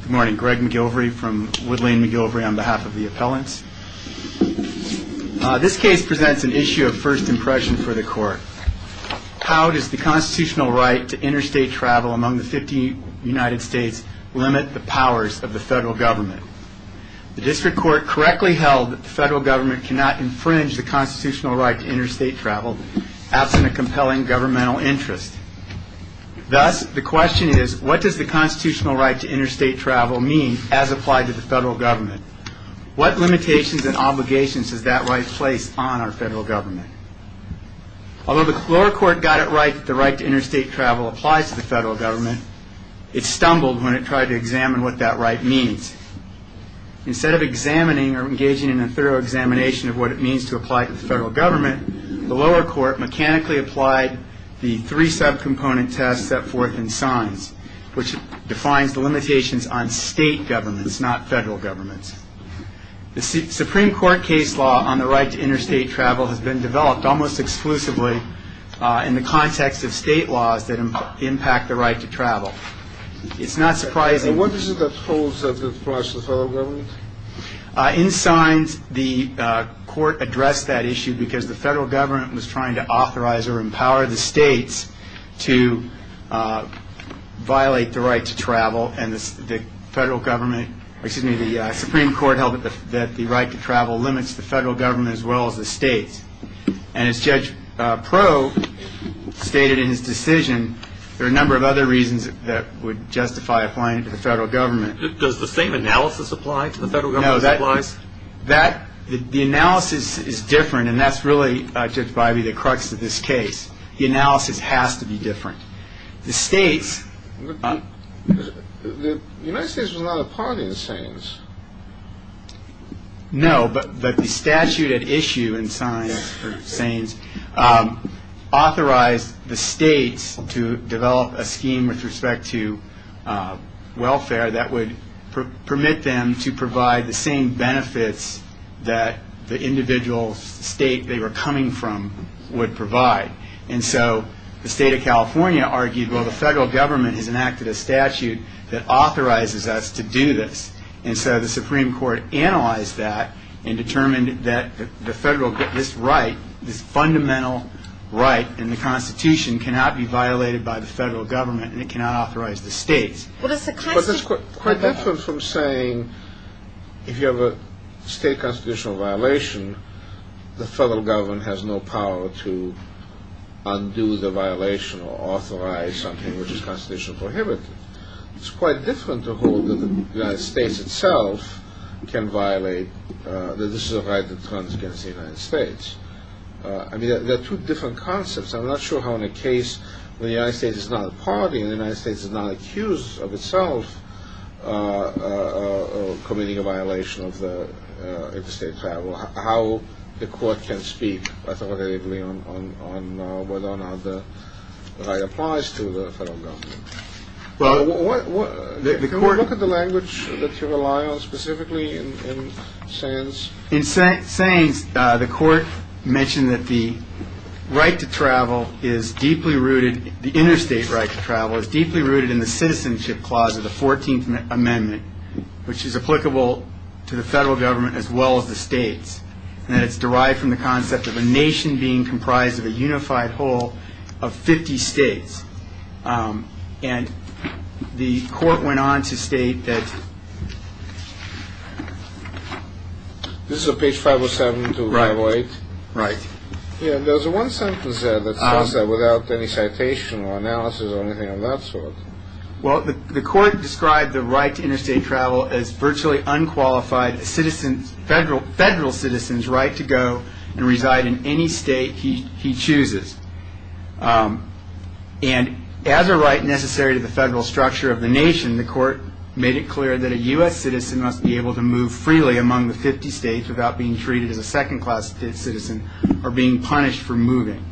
Good morning, Greg McGilvery from Woodlane McGilvery on behalf of the appellants. This case presents an issue of first impression for the court. How does the constitutional right to interstate travel among the 50 United States limit the powers of the federal government? The district court correctly held that the federal government cannot infringe the constitutional right to interstate travel absent a compelling governmental interest. Thus, the question is what does the constitutional right to interstate travel mean as applied to the federal government? What limitations and obligations does that right place on our federal government? Although the lower court got it right that the right to interstate travel applies to the federal government, it stumbled when it tried to examine what that right means. Instead of examining or engaging in a thorough examination of what it means to apply to the federal government, the lower court mechanically applied the three-subcomponent test set forth in signs, which defines the limitations on state governments, not federal governments. The Supreme Court case law on the right to interstate travel has been developed almost exclusively in the context of state laws that impact the right to travel. It's not surprising And what is it that holds up the right to the federal government? In signs, the court addressed that issue because the federal government was trying to authorize or empower the states to violate the right to travel and the federal government, excuse me, the Supreme Court held that the right to travel limits the federal government as well as the states. And as Judge Proe stated in his decision, there are a number of other reasons that would justify applying it to the federal government. Does the same analysis apply to the federal government? The analysis is different, and that's really, Judge Bivey, the crux of this case. The analysis has to be different. The states The United States was not a party to SANES. No, but the statute at issue in SANES authorized the states to develop a scheme with respect to welfare that would permit them to provide the same benefits that the individual state they were coming from would provide. And so the state of California argued, well, the federal government has enacted a statute that authorizes us to do this. And so the Supreme Court analyzed that and determined that this right, this fundamental right in the Constitution cannot be violated by the federal government, and it cannot authorize the states. But that's quite different from saying if you have a state constitutional violation, the federal government has no power to undo the violation or authorize something which is constitutionally prohibited. It's quite different to hold that the United States itself can violate that this is a right that runs against the United States. I mean, there are two different concepts. I'm not sure how in a case where the United States is not a party and the United States is not accused of itself committing a violation of the interstate travel, how the court can speak. I thought they would agree on whether or not the right applies to the federal government. Can we look at the language that you rely on specifically in SANES? In SANES, the court mentioned that the federal right to travel is deeply rooted, the interstate right to travel is deeply rooted in the citizenship clause of the 14th Amendment, which is applicable to the federal government as well as the states, and that it's derived from the concept of a nation being comprised of a unified whole of 50 states. And the court went on to state that... There's one sentence there that says that without any citation or analysis or anything of that sort. Well, the court described the right to interstate travel as virtually unqualified federal citizens' right to go and reside in any state he chooses. And as a right necessary to the federal structure of the nation, the court made it clear that a U.S. citizen must be able to move freely among the 50 states without being treated as a second-class citizen or being punished for moving.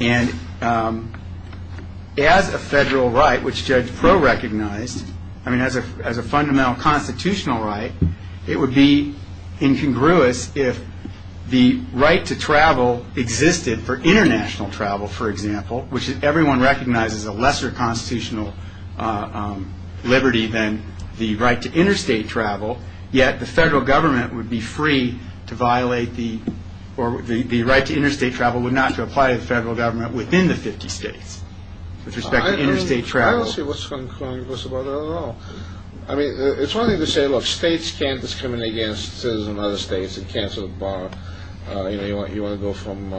And as a federal right, which Judge Proulx recognized, I mean, as a fundamental constitutional right, it would be incongruous if the right to travel existed for international travel, for example, which everyone recognizes a lesser constitutional liberty than the right to interstate travel, yet the federal government would be free to violate the... Or the right to interstate travel would not apply to the federal government within the 50 states with respect to interstate travel. I don't see what's incongruous about it at all. I mean, it's one thing to say, look, states can't discriminate against citizens of other states. They can't sort of bar... You know, you want to go from,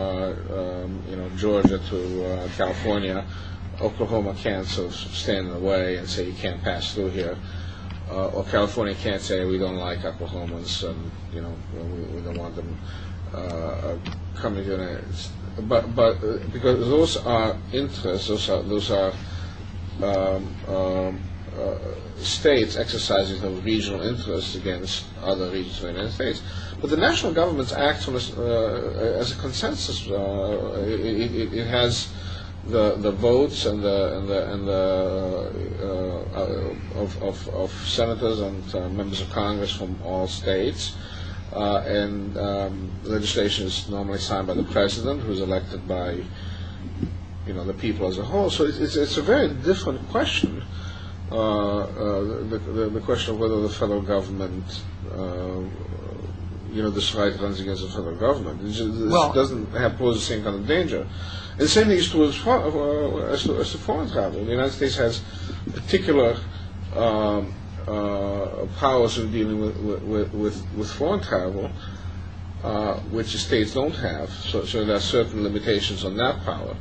you know, Georgia to California, Oklahoma can't sort of stand in the way and say you can't pass through here. Or California can't say we don't like Oklahomans and, you know, we don't want them coming to the United States. But because those are interests, those are states exercising the regional interests against other regions of the United States. But the national governments act as a consensus. It has the votes and the... Of course, the vote of senators and members of Congress from all states. And the legislation is normally signed by the president who is elected by, you know, the people as a whole. So it's a very different question, the question of whether the federal government, you know, this right runs against the federal government. It doesn't pose the same kind of danger. The same thing is true as far as the foreign travel. The United States has particular powers in dealing with foreign travel, which the states don't have. So there are certain limitations on that power.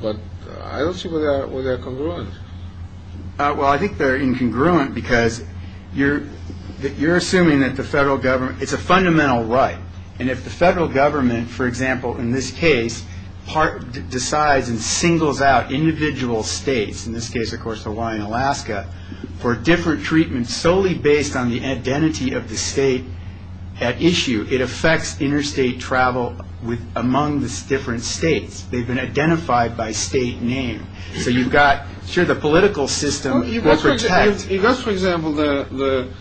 But I don't see where they're congruent. Well, I think they're incongruent because you're assuming that the federal government... ...decides and singles out individual states, in this case, of course, Hawaii and Alaska, for different treatments solely based on the identity of the state at issue. It affects interstate travel among the different states. They've been identified by state name. So you've got... Sure, the political system will protect... You've got, for example, the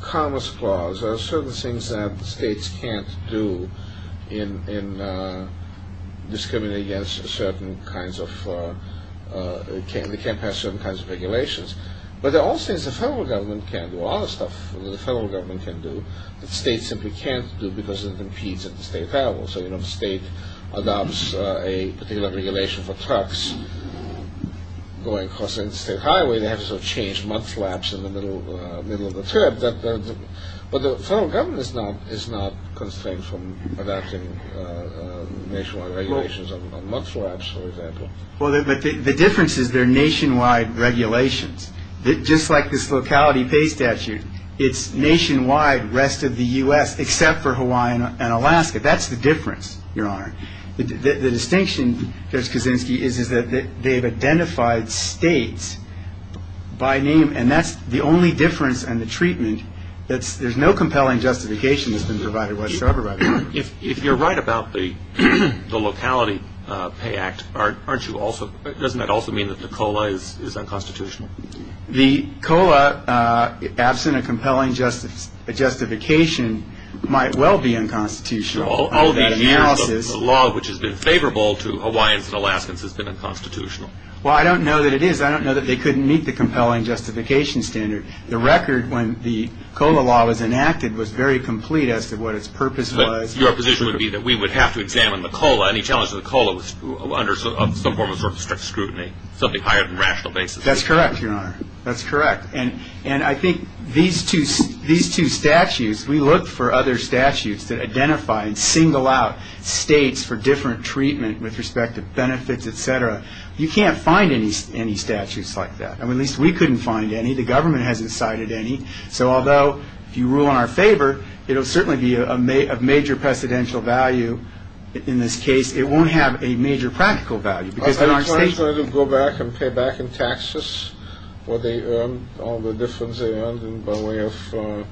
commerce clause. There are certain things that states can't do in discriminating against certain kinds of... They can't pass certain kinds of regulations. But there are also things the federal government can do, a lot of stuff that the federal government can do, that states simply can't do because it impedes interstate travel. So, you know, if a state adopts a particular regulation for trucks going across an interstate highway, they have to sort of change mudflaps in the middle of the trip. But the federal government is not constrained from adopting national regulations on mudflaps, for example. The difference is they're nationwide regulations. Just like this locality pay statute, it's nationwide, rest of the U.S., except for Hawaii and Alaska. That's the difference, Your Honor. The distinction, Judge Kaczynski, is that they've identified states by name, and that's the only difference in the treatment. There's no compelling justification that's been provided whatsoever by the federal government. If you're right about the locality pay act, doesn't that also mean that the COLA is unconstitutional? The COLA, absent a compelling justification, might well be unconstitutional. All these years, the law which has been favorable to Hawaiians and Alaskans has been unconstitutional. Well, I don't know that it is. I don't know that they couldn't meet the compelling justification standard. The record when the COLA law was enacted was very complete as to what its purpose was. But your position would be that we would have to examine the COLA, any challenge to the COLA under some form of strict scrutiny, something higher than rational basis? That's correct, Your Honor. That's correct. And I think these two statutes, we look for other statutes that identify and single out states for different treatment with respect to benefits, et cetera. You can't find any statutes like that. I mean, at least we couldn't find any. The government hasn't cited any. So although if you rule in our favor, it'll certainly be of major precedential value. In this case, it won't have a major practical value because in our state... Are you trying to go back and pay back in taxes what they earned, all the difference they earned, by way of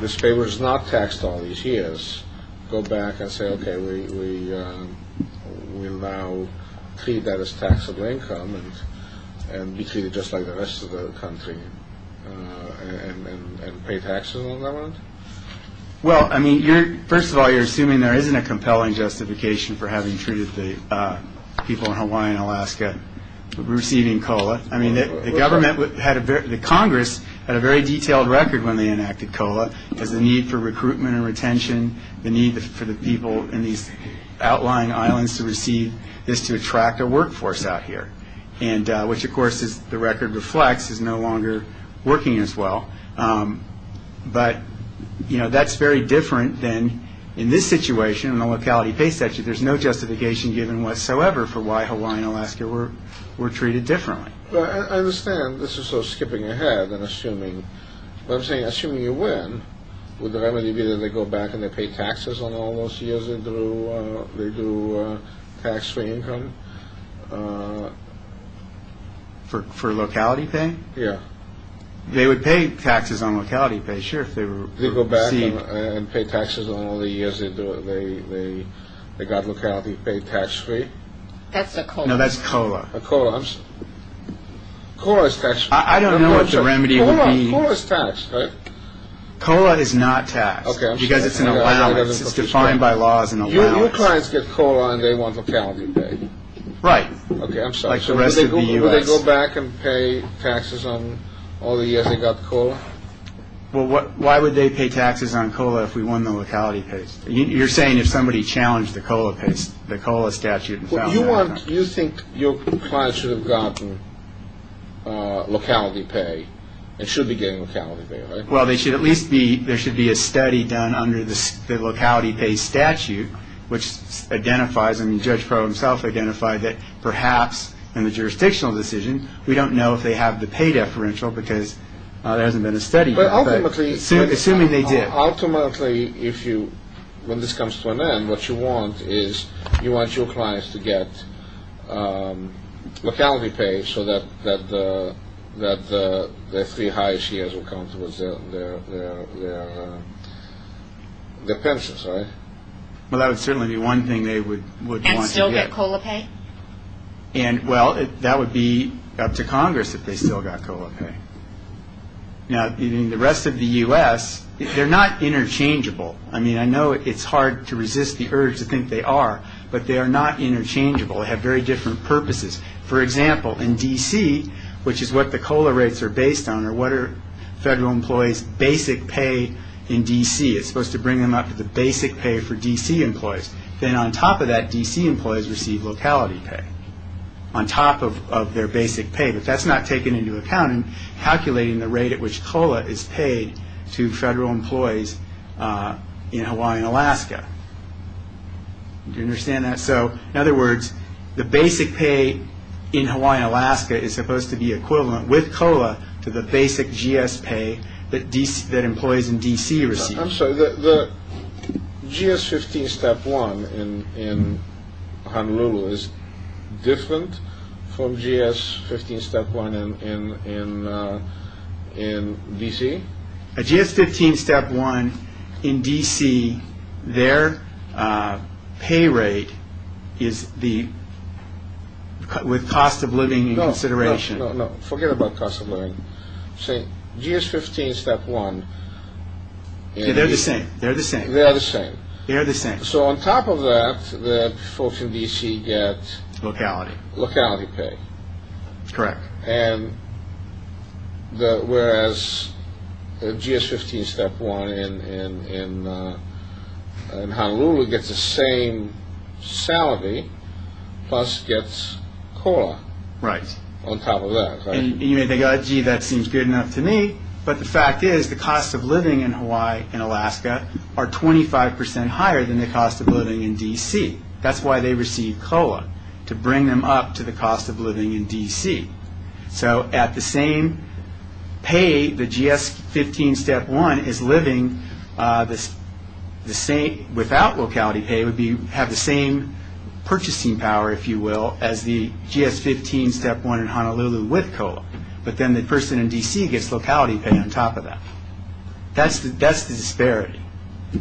this favor is not taxed all these years, go back and say, okay, we will now treat that as taxable income and be treated just like the rest of the country and pay taxes on that amount? Well, I mean, first of all, you're assuming there isn't a compelling justification for having treated the people in Hawaii and Alaska receiving COLA. I mean, the Congress had a very detailed record when they enacted COLA as the need for recruitment and retention, the need for the people in these outlying islands to receive this to attract a workforce out here, which of course, as the record reflects, is no longer working as well. But that's very different than in this situation, in the locality pay statute. There's no justification given whatsoever for why Hawaii and Alaska were treated differently. I understand this is sort of skipping ahead and assuming. What I'm saying, assuming you win, would the remedy be that they go back and they pay taxes on all those years they do tax-free income? For locality pay? Yeah. They would pay taxes on locality pay, sure, if they were received. They go back and pay taxes on all the years they got locality pay tax-free? That's a COLA. No, that's COLA. A COLA. COLA is tax-free. I don't know what the remedy would be. COLA is taxed, right? COLA is not taxed. Okay, I'm sorry. Because it's an allowance. It's defined by law as an allowance. Your clients get COLA and they want locality pay. Right. Okay, I'm sorry. Like the rest of the U.S. So would they go back and pay taxes on all the years they got COLA? Well, why would they pay taxes on COLA if we won the locality pay? You're saying if somebody challenged the COLA statute and found that out. You think your clients should have gotten locality pay and should be getting locality pay, right? Well, there should at least be a study done under the locality pay statute which identifies, I mean, Judge Crowe himself identified that perhaps in the jurisdictional decision, we don't know if they have the pay deferential because there hasn't been a study done. But ultimately. Assuming they did. So ultimately, when this comes to an end, what you want is you want your clients to get locality pay so that their three highest years will come towards their pensions, right? Well, that would certainly be one thing they would want to get. And still get COLA pay? Well, that would be up to Congress if they still got COLA pay. Now, in the rest of the U.S., they're not interchangeable. I mean, I know it's hard to resist the urge to think they are. But they are not interchangeable. They have very different purposes. For example, in D.C., which is what the COLA rates are based on, or what are federal employees' basic pay in D.C. It's supposed to bring them up to the basic pay for D.C. employees. Then on top of that, D.C. employees receive locality pay on top of their basic pay. But that's not taken into account in calculating the rate at which COLA is paid to federal employees in Hawaii and Alaska. Do you understand that? So, in other words, the basic pay in Hawaii and Alaska is supposed to be equivalent with COLA to the basic GS pay that employees in D.C. receive. I'm sorry. The GS-15 Step 1 in Honolulu is different from GS-15 Step 1 in D.C.? A GS-15 Step 1 in D.C., their pay rate is with cost of living in consideration. No, no. Forget about cost of living. GS-15 Step 1... They're the same. They're the same. They're the same. They're the same. So on top of that, folks in D.C. get... Locality. Locality pay. Correct. And whereas the GS-15 Step 1 in Honolulu gets the same salary, plus gets COLA on top of that. And you may think, gee, that seems good enough to me, but the fact is the cost of living in Hawaii and Alaska are 25% higher than the cost of living in D.C. That's why they receive COLA, to bring them up to the cost of living in D.C. So at the same pay, the GS-15 Step 1 is living the same... Without locality pay, would have the same purchasing power, if you will, as the GS-15 Step 1 in Honolulu with COLA. But then the person in D.C. gets locality pay on top of that. That's the disparity. Do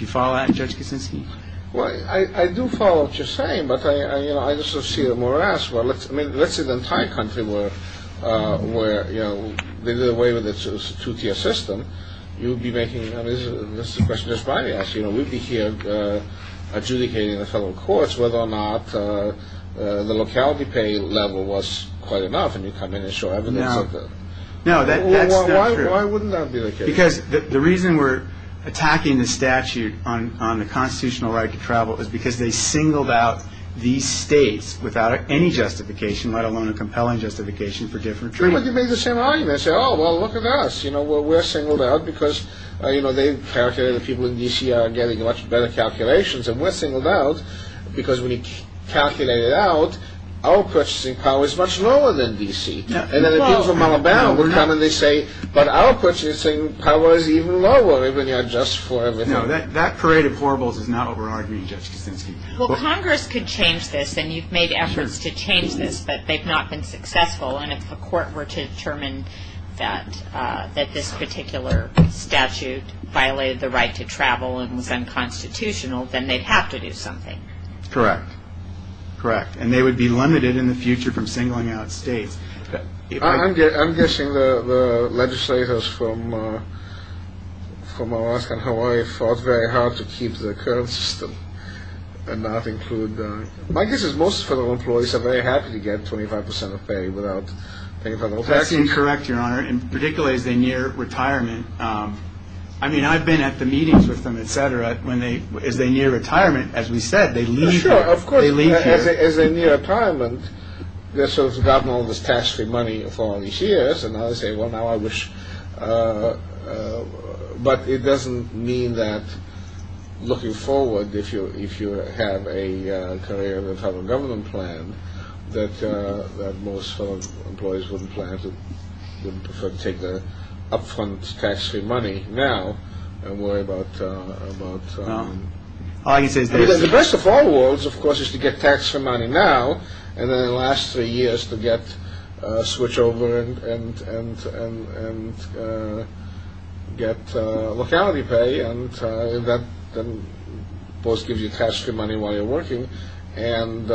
you follow that, Judge Kuczynski? Well, I do follow what you're saying, but I just don't see the morass. Well, let's say the entire country were... They did away with the two-tier system. You would be making... That's the question that's probably asked. We'd be here adjudicating in the federal courts whether or not the locality pay level was quite enough and you'd come in and show evidence of it. No, that's not true. Why wouldn't that be the case? Because the reason we're attacking the statute on the constitutional right to travel is because they singled out these states without any justification, let alone a compelling justification, for different treatment. But you make the same argument. You say, oh, well, look at us. We're singled out because people in D.C. are getting much better calculations and we're singled out because when you calculate it out, our purchasing power is much lower than D.C. And then the people from Alabama will come and they say, but our purchasing power is even lower when you adjust for everything. No, that parade of horribles is not what we're arguing, Judge Kuczynski. Well, Congress could change this, and you've made efforts to change this, but they've not been successful. And if the court were to determine that this particular statute violated the right to travel and was unconstitutional, then they'd have to do something. Correct. Correct. And they would be limited in the future from singling out states. I'm guessing the legislators from Alaska and Hawaii fought very hard to keep the current system and not include... My guess is most federal employees are very happy to get 25% of pay without paying federal taxes. That's incorrect, Your Honor, and particularly as they near retirement. I mean, I've been at the meetings with them, et cetera, as they near retirement, as we said, they leave here. Sure, of course, as they near retirement, they've sort of gotten all this tax-free money for all these years and now they say, well, now I wish... But it doesn't mean that, looking forward, if you have a career in the federal government plan, that most employees wouldn't plan to take the upfront tax-free money now and worry about... The best of all worlds, of course, is to get tax-free money now and then in the last three years to switch over and get locality pay, and that both gives you tax-free money while you're working and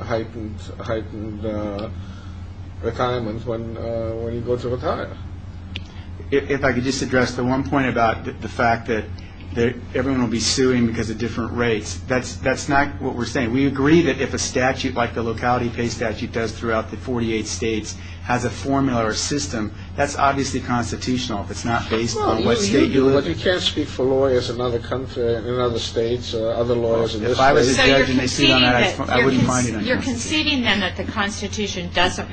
heightened retirement when you go to retire. If I could just address the one point about the fact that everyone will be suing because of different rates, that's not what we're saying. We agree that if a statute like the locality pay statute does throughout the 48 states has a formula or a system, that's obviously constitutional if it's not based on what state you live in. Well, you can't speak for lawyers in other states or other lawyers in this state. If I was a judge and they sued on that, I wouldn't mind it. You're conceding then that the Constitution doesn't require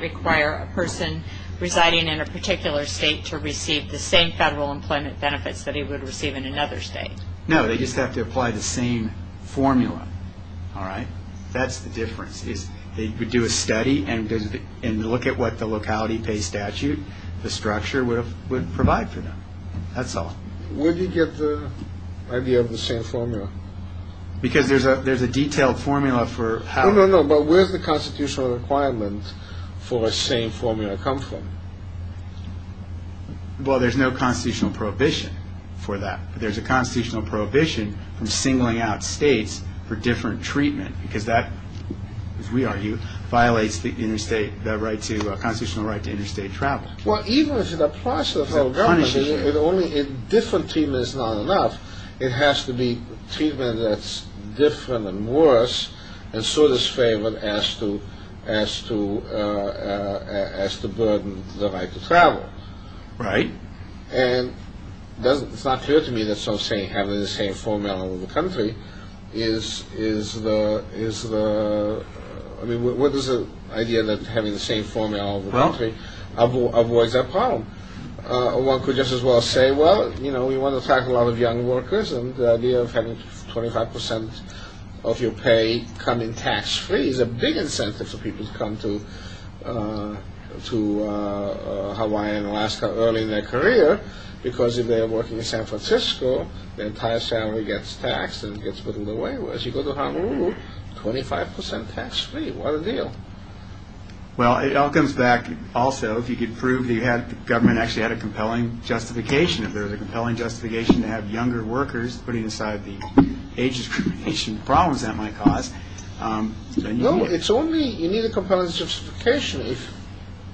a person residing in a particular state to receive the same federal employment benefits that he would receive in another state? No, they just have to apply the same formula. That's the difference. They would do a study and look at what the locality pay statute, the structure, would provide for them. That's all. Where do you get the idea of the same formula? Because there's a detailed formula for how... No, no, no, but where does the constitutional requirement for a same formula come from? Well, there's no constitutional prohibition for that. There's a constitutional prohibition from singling out states for different treatment because that, as we argue, violates the constitutional right to interstate travel. Well, even if it applies to the federal government, if different treatment is not enough, it has to be treatment that's different and worse and so disfavored as to burden the right to travel. Right. And it's not clear to me that some say having the same formula all over the country is the... I mean, what is the idea that having the same formula all over the country avoids that problem? One could just as well say, well, you know, we want to tackle a lot of young workers, and the idea of having 25% of your pay come in tax-free is a big incentive for people to come to Hawaii and Alaska early in their career because if they are working in San Francisco, their entire salary gets taxed and gets put in the way. Whereas if you go to Honolulu, 25% tax-free. What a deal. Well, it all comes back, also, if you could prove the government actually had a compelling justification. If there was a compelling justification to have younger workers putting aside the age discrimination problems that might cause... No, it's only... you need a compelling justification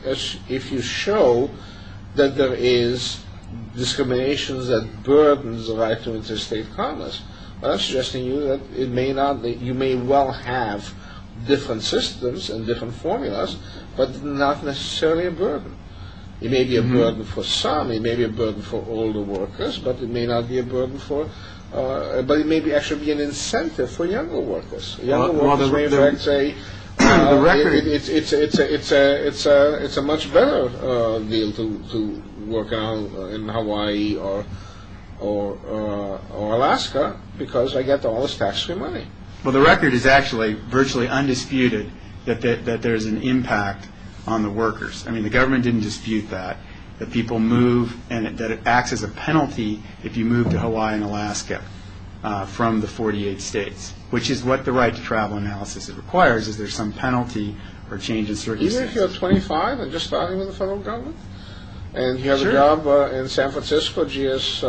if you show that there is discrimination that burdens the right to interstate commerce. I'm suggesting to you that you may well have different systems and different formulas, but not necessarily a burden. It may be a burden for some, it may be a burden for older workers, but it may not be a burden for... but it may actually be an incentive for younger workers. It's a much better deal to work in Hawaii or Alaska because I get all this tax-free money. Well, the record is actually virtually undisputed that there is an impact on the workers. I mean, the government didn't dispute that, that people move and that it acts as a penalty if you move to Hawaii and Alaska from the 48 states, which is what the right to travel analysis requires. Is there some penalty or change in circumstances? Even if you're 25 and just starting in the federal government and you have a job in San Francisco, GS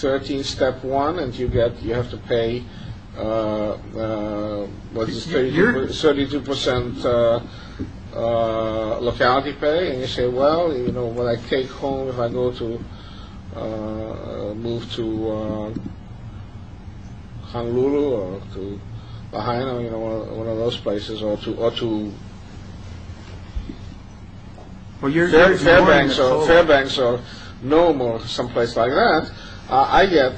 13, Step 1, and you have to pay 32% locality pay, and you say, well, when I take home, if I go to move to Honolulu or to Ohio or one of those places, or to Fairbanks or Nome or someplace like that, I get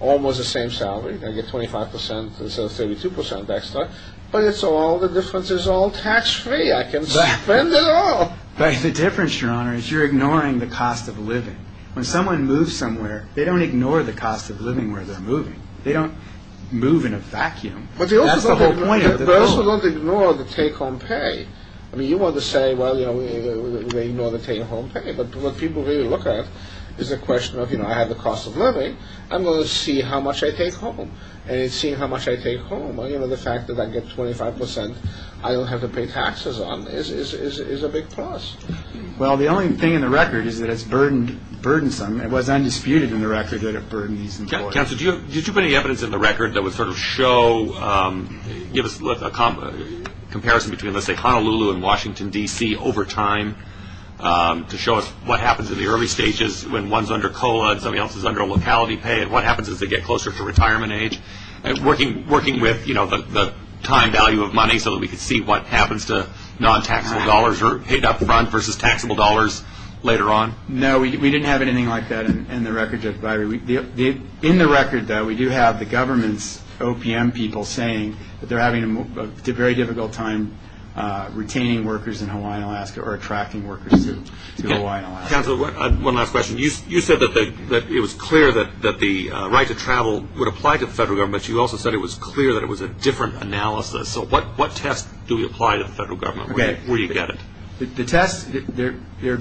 almost the same salary. I get 25% instead of 32% extra. But it's all, the difference is all tax-free. I can spend it all. The difference, Your Honor, is you're ignoring the cost of living. When someone moves somewhere, they don't ignore the cost of living where they're moving. They don't move in a vacuum. But they also don't ignore the take-home pay. You want to say, well, they ignore the take-home pay, but what people really look at is the question of, I have the cost of living, I'm going to see how much I take home. And seeing how much I take home, the fact that I get 25%, I don't have to pay taxes on, is a big plus. Well, the only thing in the record is that it's burdensome. It was undisputed in the record that it burdened these employers. Counsel, do you have any evidence in the record that would sort of show, give us a comparison between, let's say, Honolulu and Washington, D.C. over time to show us what happens in the early stages when one's under COLA and somebody else is under locality pay and what happens as they get closer to retirement age? Working with the time value of money so that we could see what happens to non-taxable dollars paid up front versus taxable dollars later on? No, we didn't have anything like that in the record. In the record, though, we do have the government's OPM people saying that they're having a very difficult time retaining workers in Hawaiian Alaska or attracting workers to Hawaiian Alaska. Counsel, one last question. You said that it was clear that the right to travel would apply to the federal government, but you also said it was clear that it was a different analysis. So what test do we apply to the federal government? There would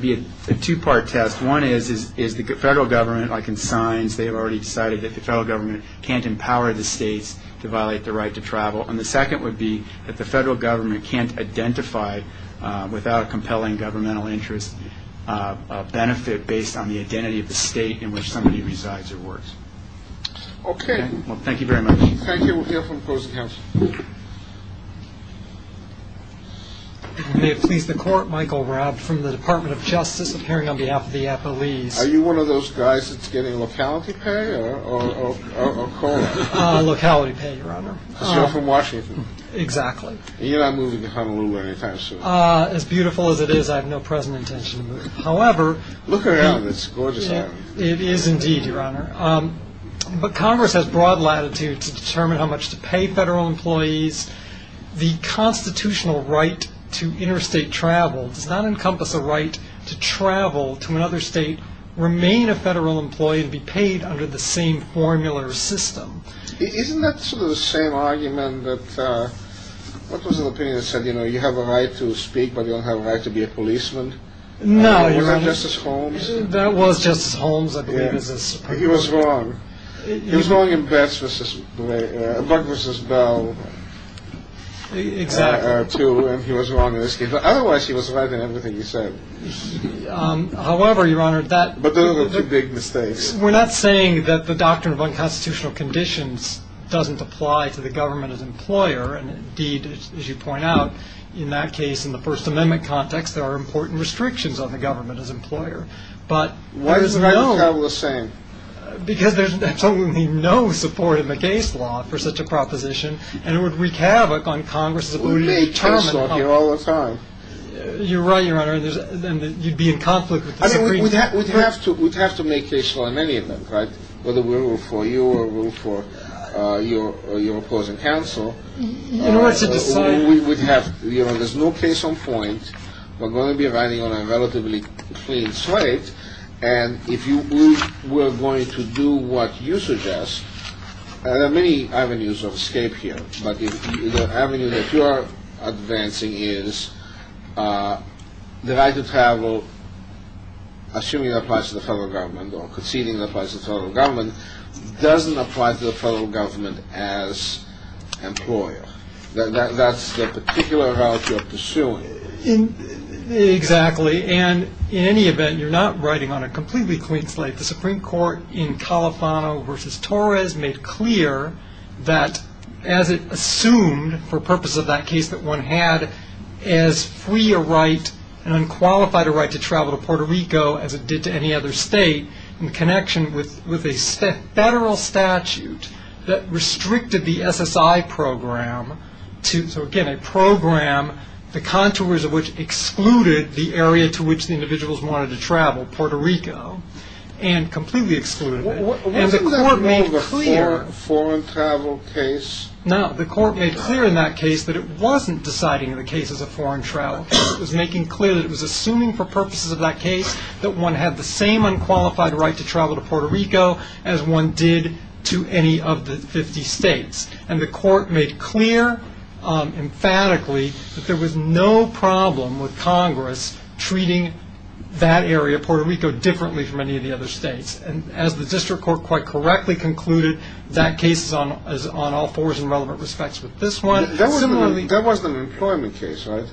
be a two-part test. One is the federal government, like in signs, they have already decided that the federal government can't empower the states to violate the right to travel. And the second would be that the federal government can't identify, without a compelling governmental interest, a benefit based on the identity of the state in which somebody resides or works. Thank you very much. Thank you. We'll hear from opposing counsel. May it please the Court, Michael Raab from the Department of Justice, appearing on behalf of the Apollese. Are you one of those guys that's getting locality pay? Locality pay, Your Honor. Because you're from Washington. You're not moving to Honolulu anytime soon. As beautiful as it is, I have no present intention to move. Look around, it's a gorgeous island. It is indeed, Your Honor. But Congress has broad latitude to determine how much to pay federal employees. The constitutional right to interstate travel does not encompass a right to travel to another state, remain a federal employee, and be paid under the same formula or system. Isn't that sort of the same argument that, what was the opinion that said, you know, you have a right to speak, but you don't have a right to be a policeman? No, Your Honor. That was Justice Holmes, I believe. He was wrong. He was wrong in Buck v. Bell, too. And he was wrong in this case. Otherwise, he was right in everything he said. However, Your Honor, we're not saying that the doctrine of unconstitutional conditions doesn't apply to the government as employer. Indeed, as you point out, in that case, in the First Amendment context, there are important restrictions on the government as employer. Why is the right to travel the same? Because there's absolutely no support in the case law for such a proposition and it would wreak havoc on Congress. We make case law here all the time. You're right, Your Honor, and you'd be in conflict with the Supreme Court. We'd have to make case law in many of them, right? Whether we're for you or we're for your opposing counsel. In order to decide. There's no case on point. We're going to be riding on a relatively clean slate and if we're going to do what you suggest, there are many avenues of escape here but the avenue that you're advancing is the right to travel assuming it applies to the federal government or conceding it applies to the federal government doesn't apply to the federal government as employer. That's the particular route you're pursuing. Exactly. And in any event, you're not riding on a completely clean slate. The Supreme Court in Califano v. Torres made clear that as it assumed for purpose of that case that one had as free a right, an unqualified right to travel to Puerto Rico as it did to any other state in connection with a federal statute that restricted the SSI program so again, a program the contours of which excluded the area to which the individuals wanted to travel, Puerto Rico and completely excluded it. Wasn't that part of the foreign travel case? No, the court made clear in that case that it wasn't deciding in the cases of foreign travel it was making clear that it was assuming for purposes of that case that one had the same unqualified right to travel to Puerto Rico as one did to any of the 50 states and the court made clear emphatically that there was no problem with Congress treating that area, Puerto Rico, differently from any of the other states and as the district court quite correctly concluded that case is on all fours in relevant respects with this one That wasn't an employment case, right?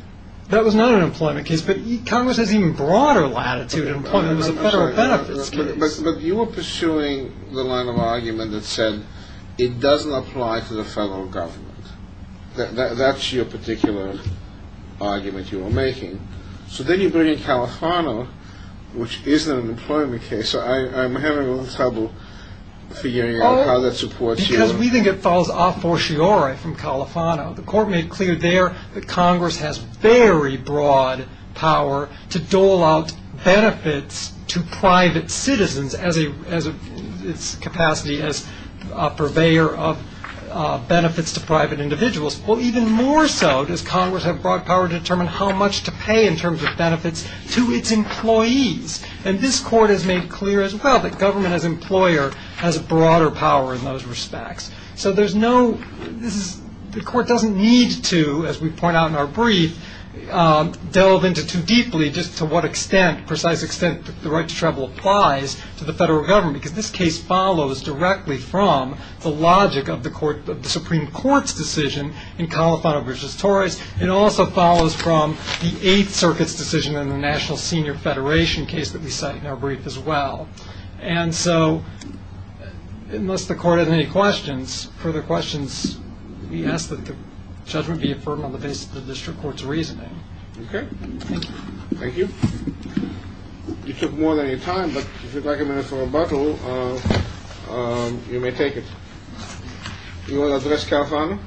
That was not an employment case but Congress has even broader latitude But you were pursuing the line of argument that said it doesn't apply to the federal government That's your particular argument you were making So then you bring in Califano which isn't an employment case I'm having a little trouble figuring out how that supports you Because we think it falls off for sure from Califano The court made clear there that Congress has very broad power to dole out benefits to private citizens as its capacity as purveyor of benefits to private individuals Even more so, does Congress have broad power to determine how much to pay in terms of benefits to its employees And this court has made clear as well that government as employer has broader power in those respects So there's no... The court doesn't need to, as we point out in our brief delve into too deeply just to what extent the right to travel applies to the federal government Because this case follows directly from the logic of the Supreme Court's decision in Califano v. Torres It also follows from the Eighth Circuit's decision in the National Senior Federation case that we cite in our brief as well Unless the court has any further questions we ask that the judgment be affirmed on the basis of the district court's reasoning Thank you You took more than your time but if you'd like a minute for rebuttal you may take it You want to address Califano?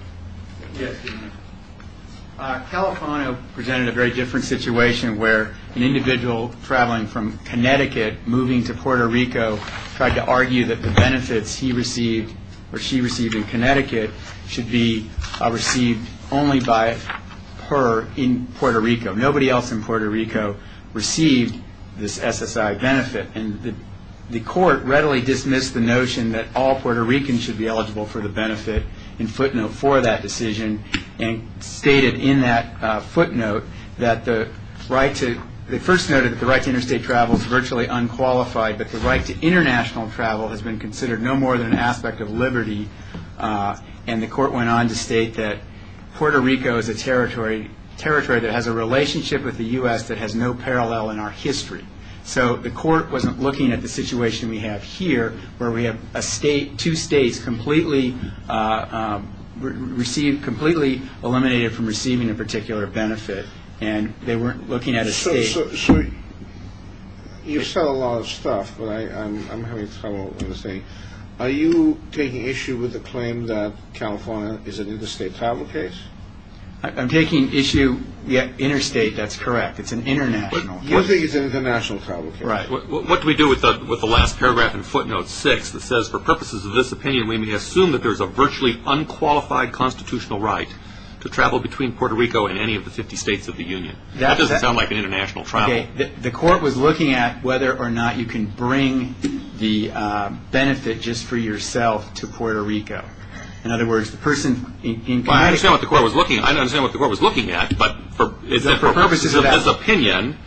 Califano presented a very different situation where an individual traveling from Connecticut moving to Puerto Rico tried to argue that the benefits he received or she received in Connecticut should be received only by her in Puerto Rico Nobody else in Puerto Rico received this SSI benefit And the court readily dismissed the notion that all Puerto Ricans should be eligible for the benefit in footnote for that decision and stated in that footnote that the right to... that the right to international travel has been considered no more than an aspect of liberty and the court went on to state that Puerto Rico is a territory that has a relationship with the U.S. that has no parallel in our history So the court wasn't looking at the situation we have here where we have two states completely eliminated from receiving a particular benefit And they weren't looking at a state You've said a lot of stuff but I'm having trouble understanding Are you taking issue with the claim that California is an interstate travel case? I'm taking issue... Interstate, that's correct It's an international travel case What do we do with the last paragraph in footnote 6 that says for purposes of this opinion we assume that there is a virtually unqualified constitutional right to travel between Puerto Rico and any of the 50 states of the Union That doesn't sound like an international travel The court was looking at whether or not you can bring the benefit just for yourself to Puerto Rico I understand what the court was looking at but for purposes of this opinion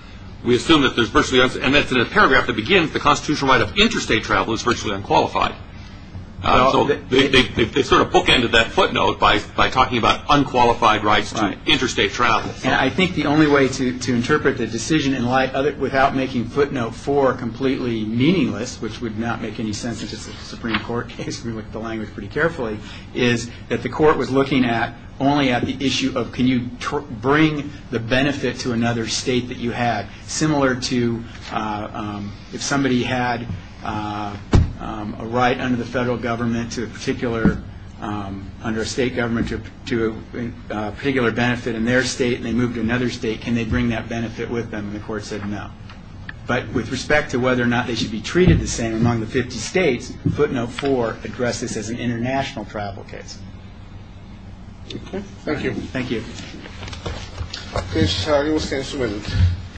we assume that there is virtually unqualified and in the paragraph that begins the constitutional right of interstate travel is virtually unqualified They sort of bookended that footnote by talking about unqualified rights to interstate travel I think the only way to interpret the decision without making footnote 4 completely meaningless which would not make any sense in a Supreme Court case is that the court was looking at the issue of can you bring the benefit to another state similar to if somebody had a right under the federal government to a particular benefit in their state and they moved to another state can they bring that benefit with them and the court said no but with respect to whether or not they should be treated the same among the 50 states can footnote 4 address this as an international travel case Thank you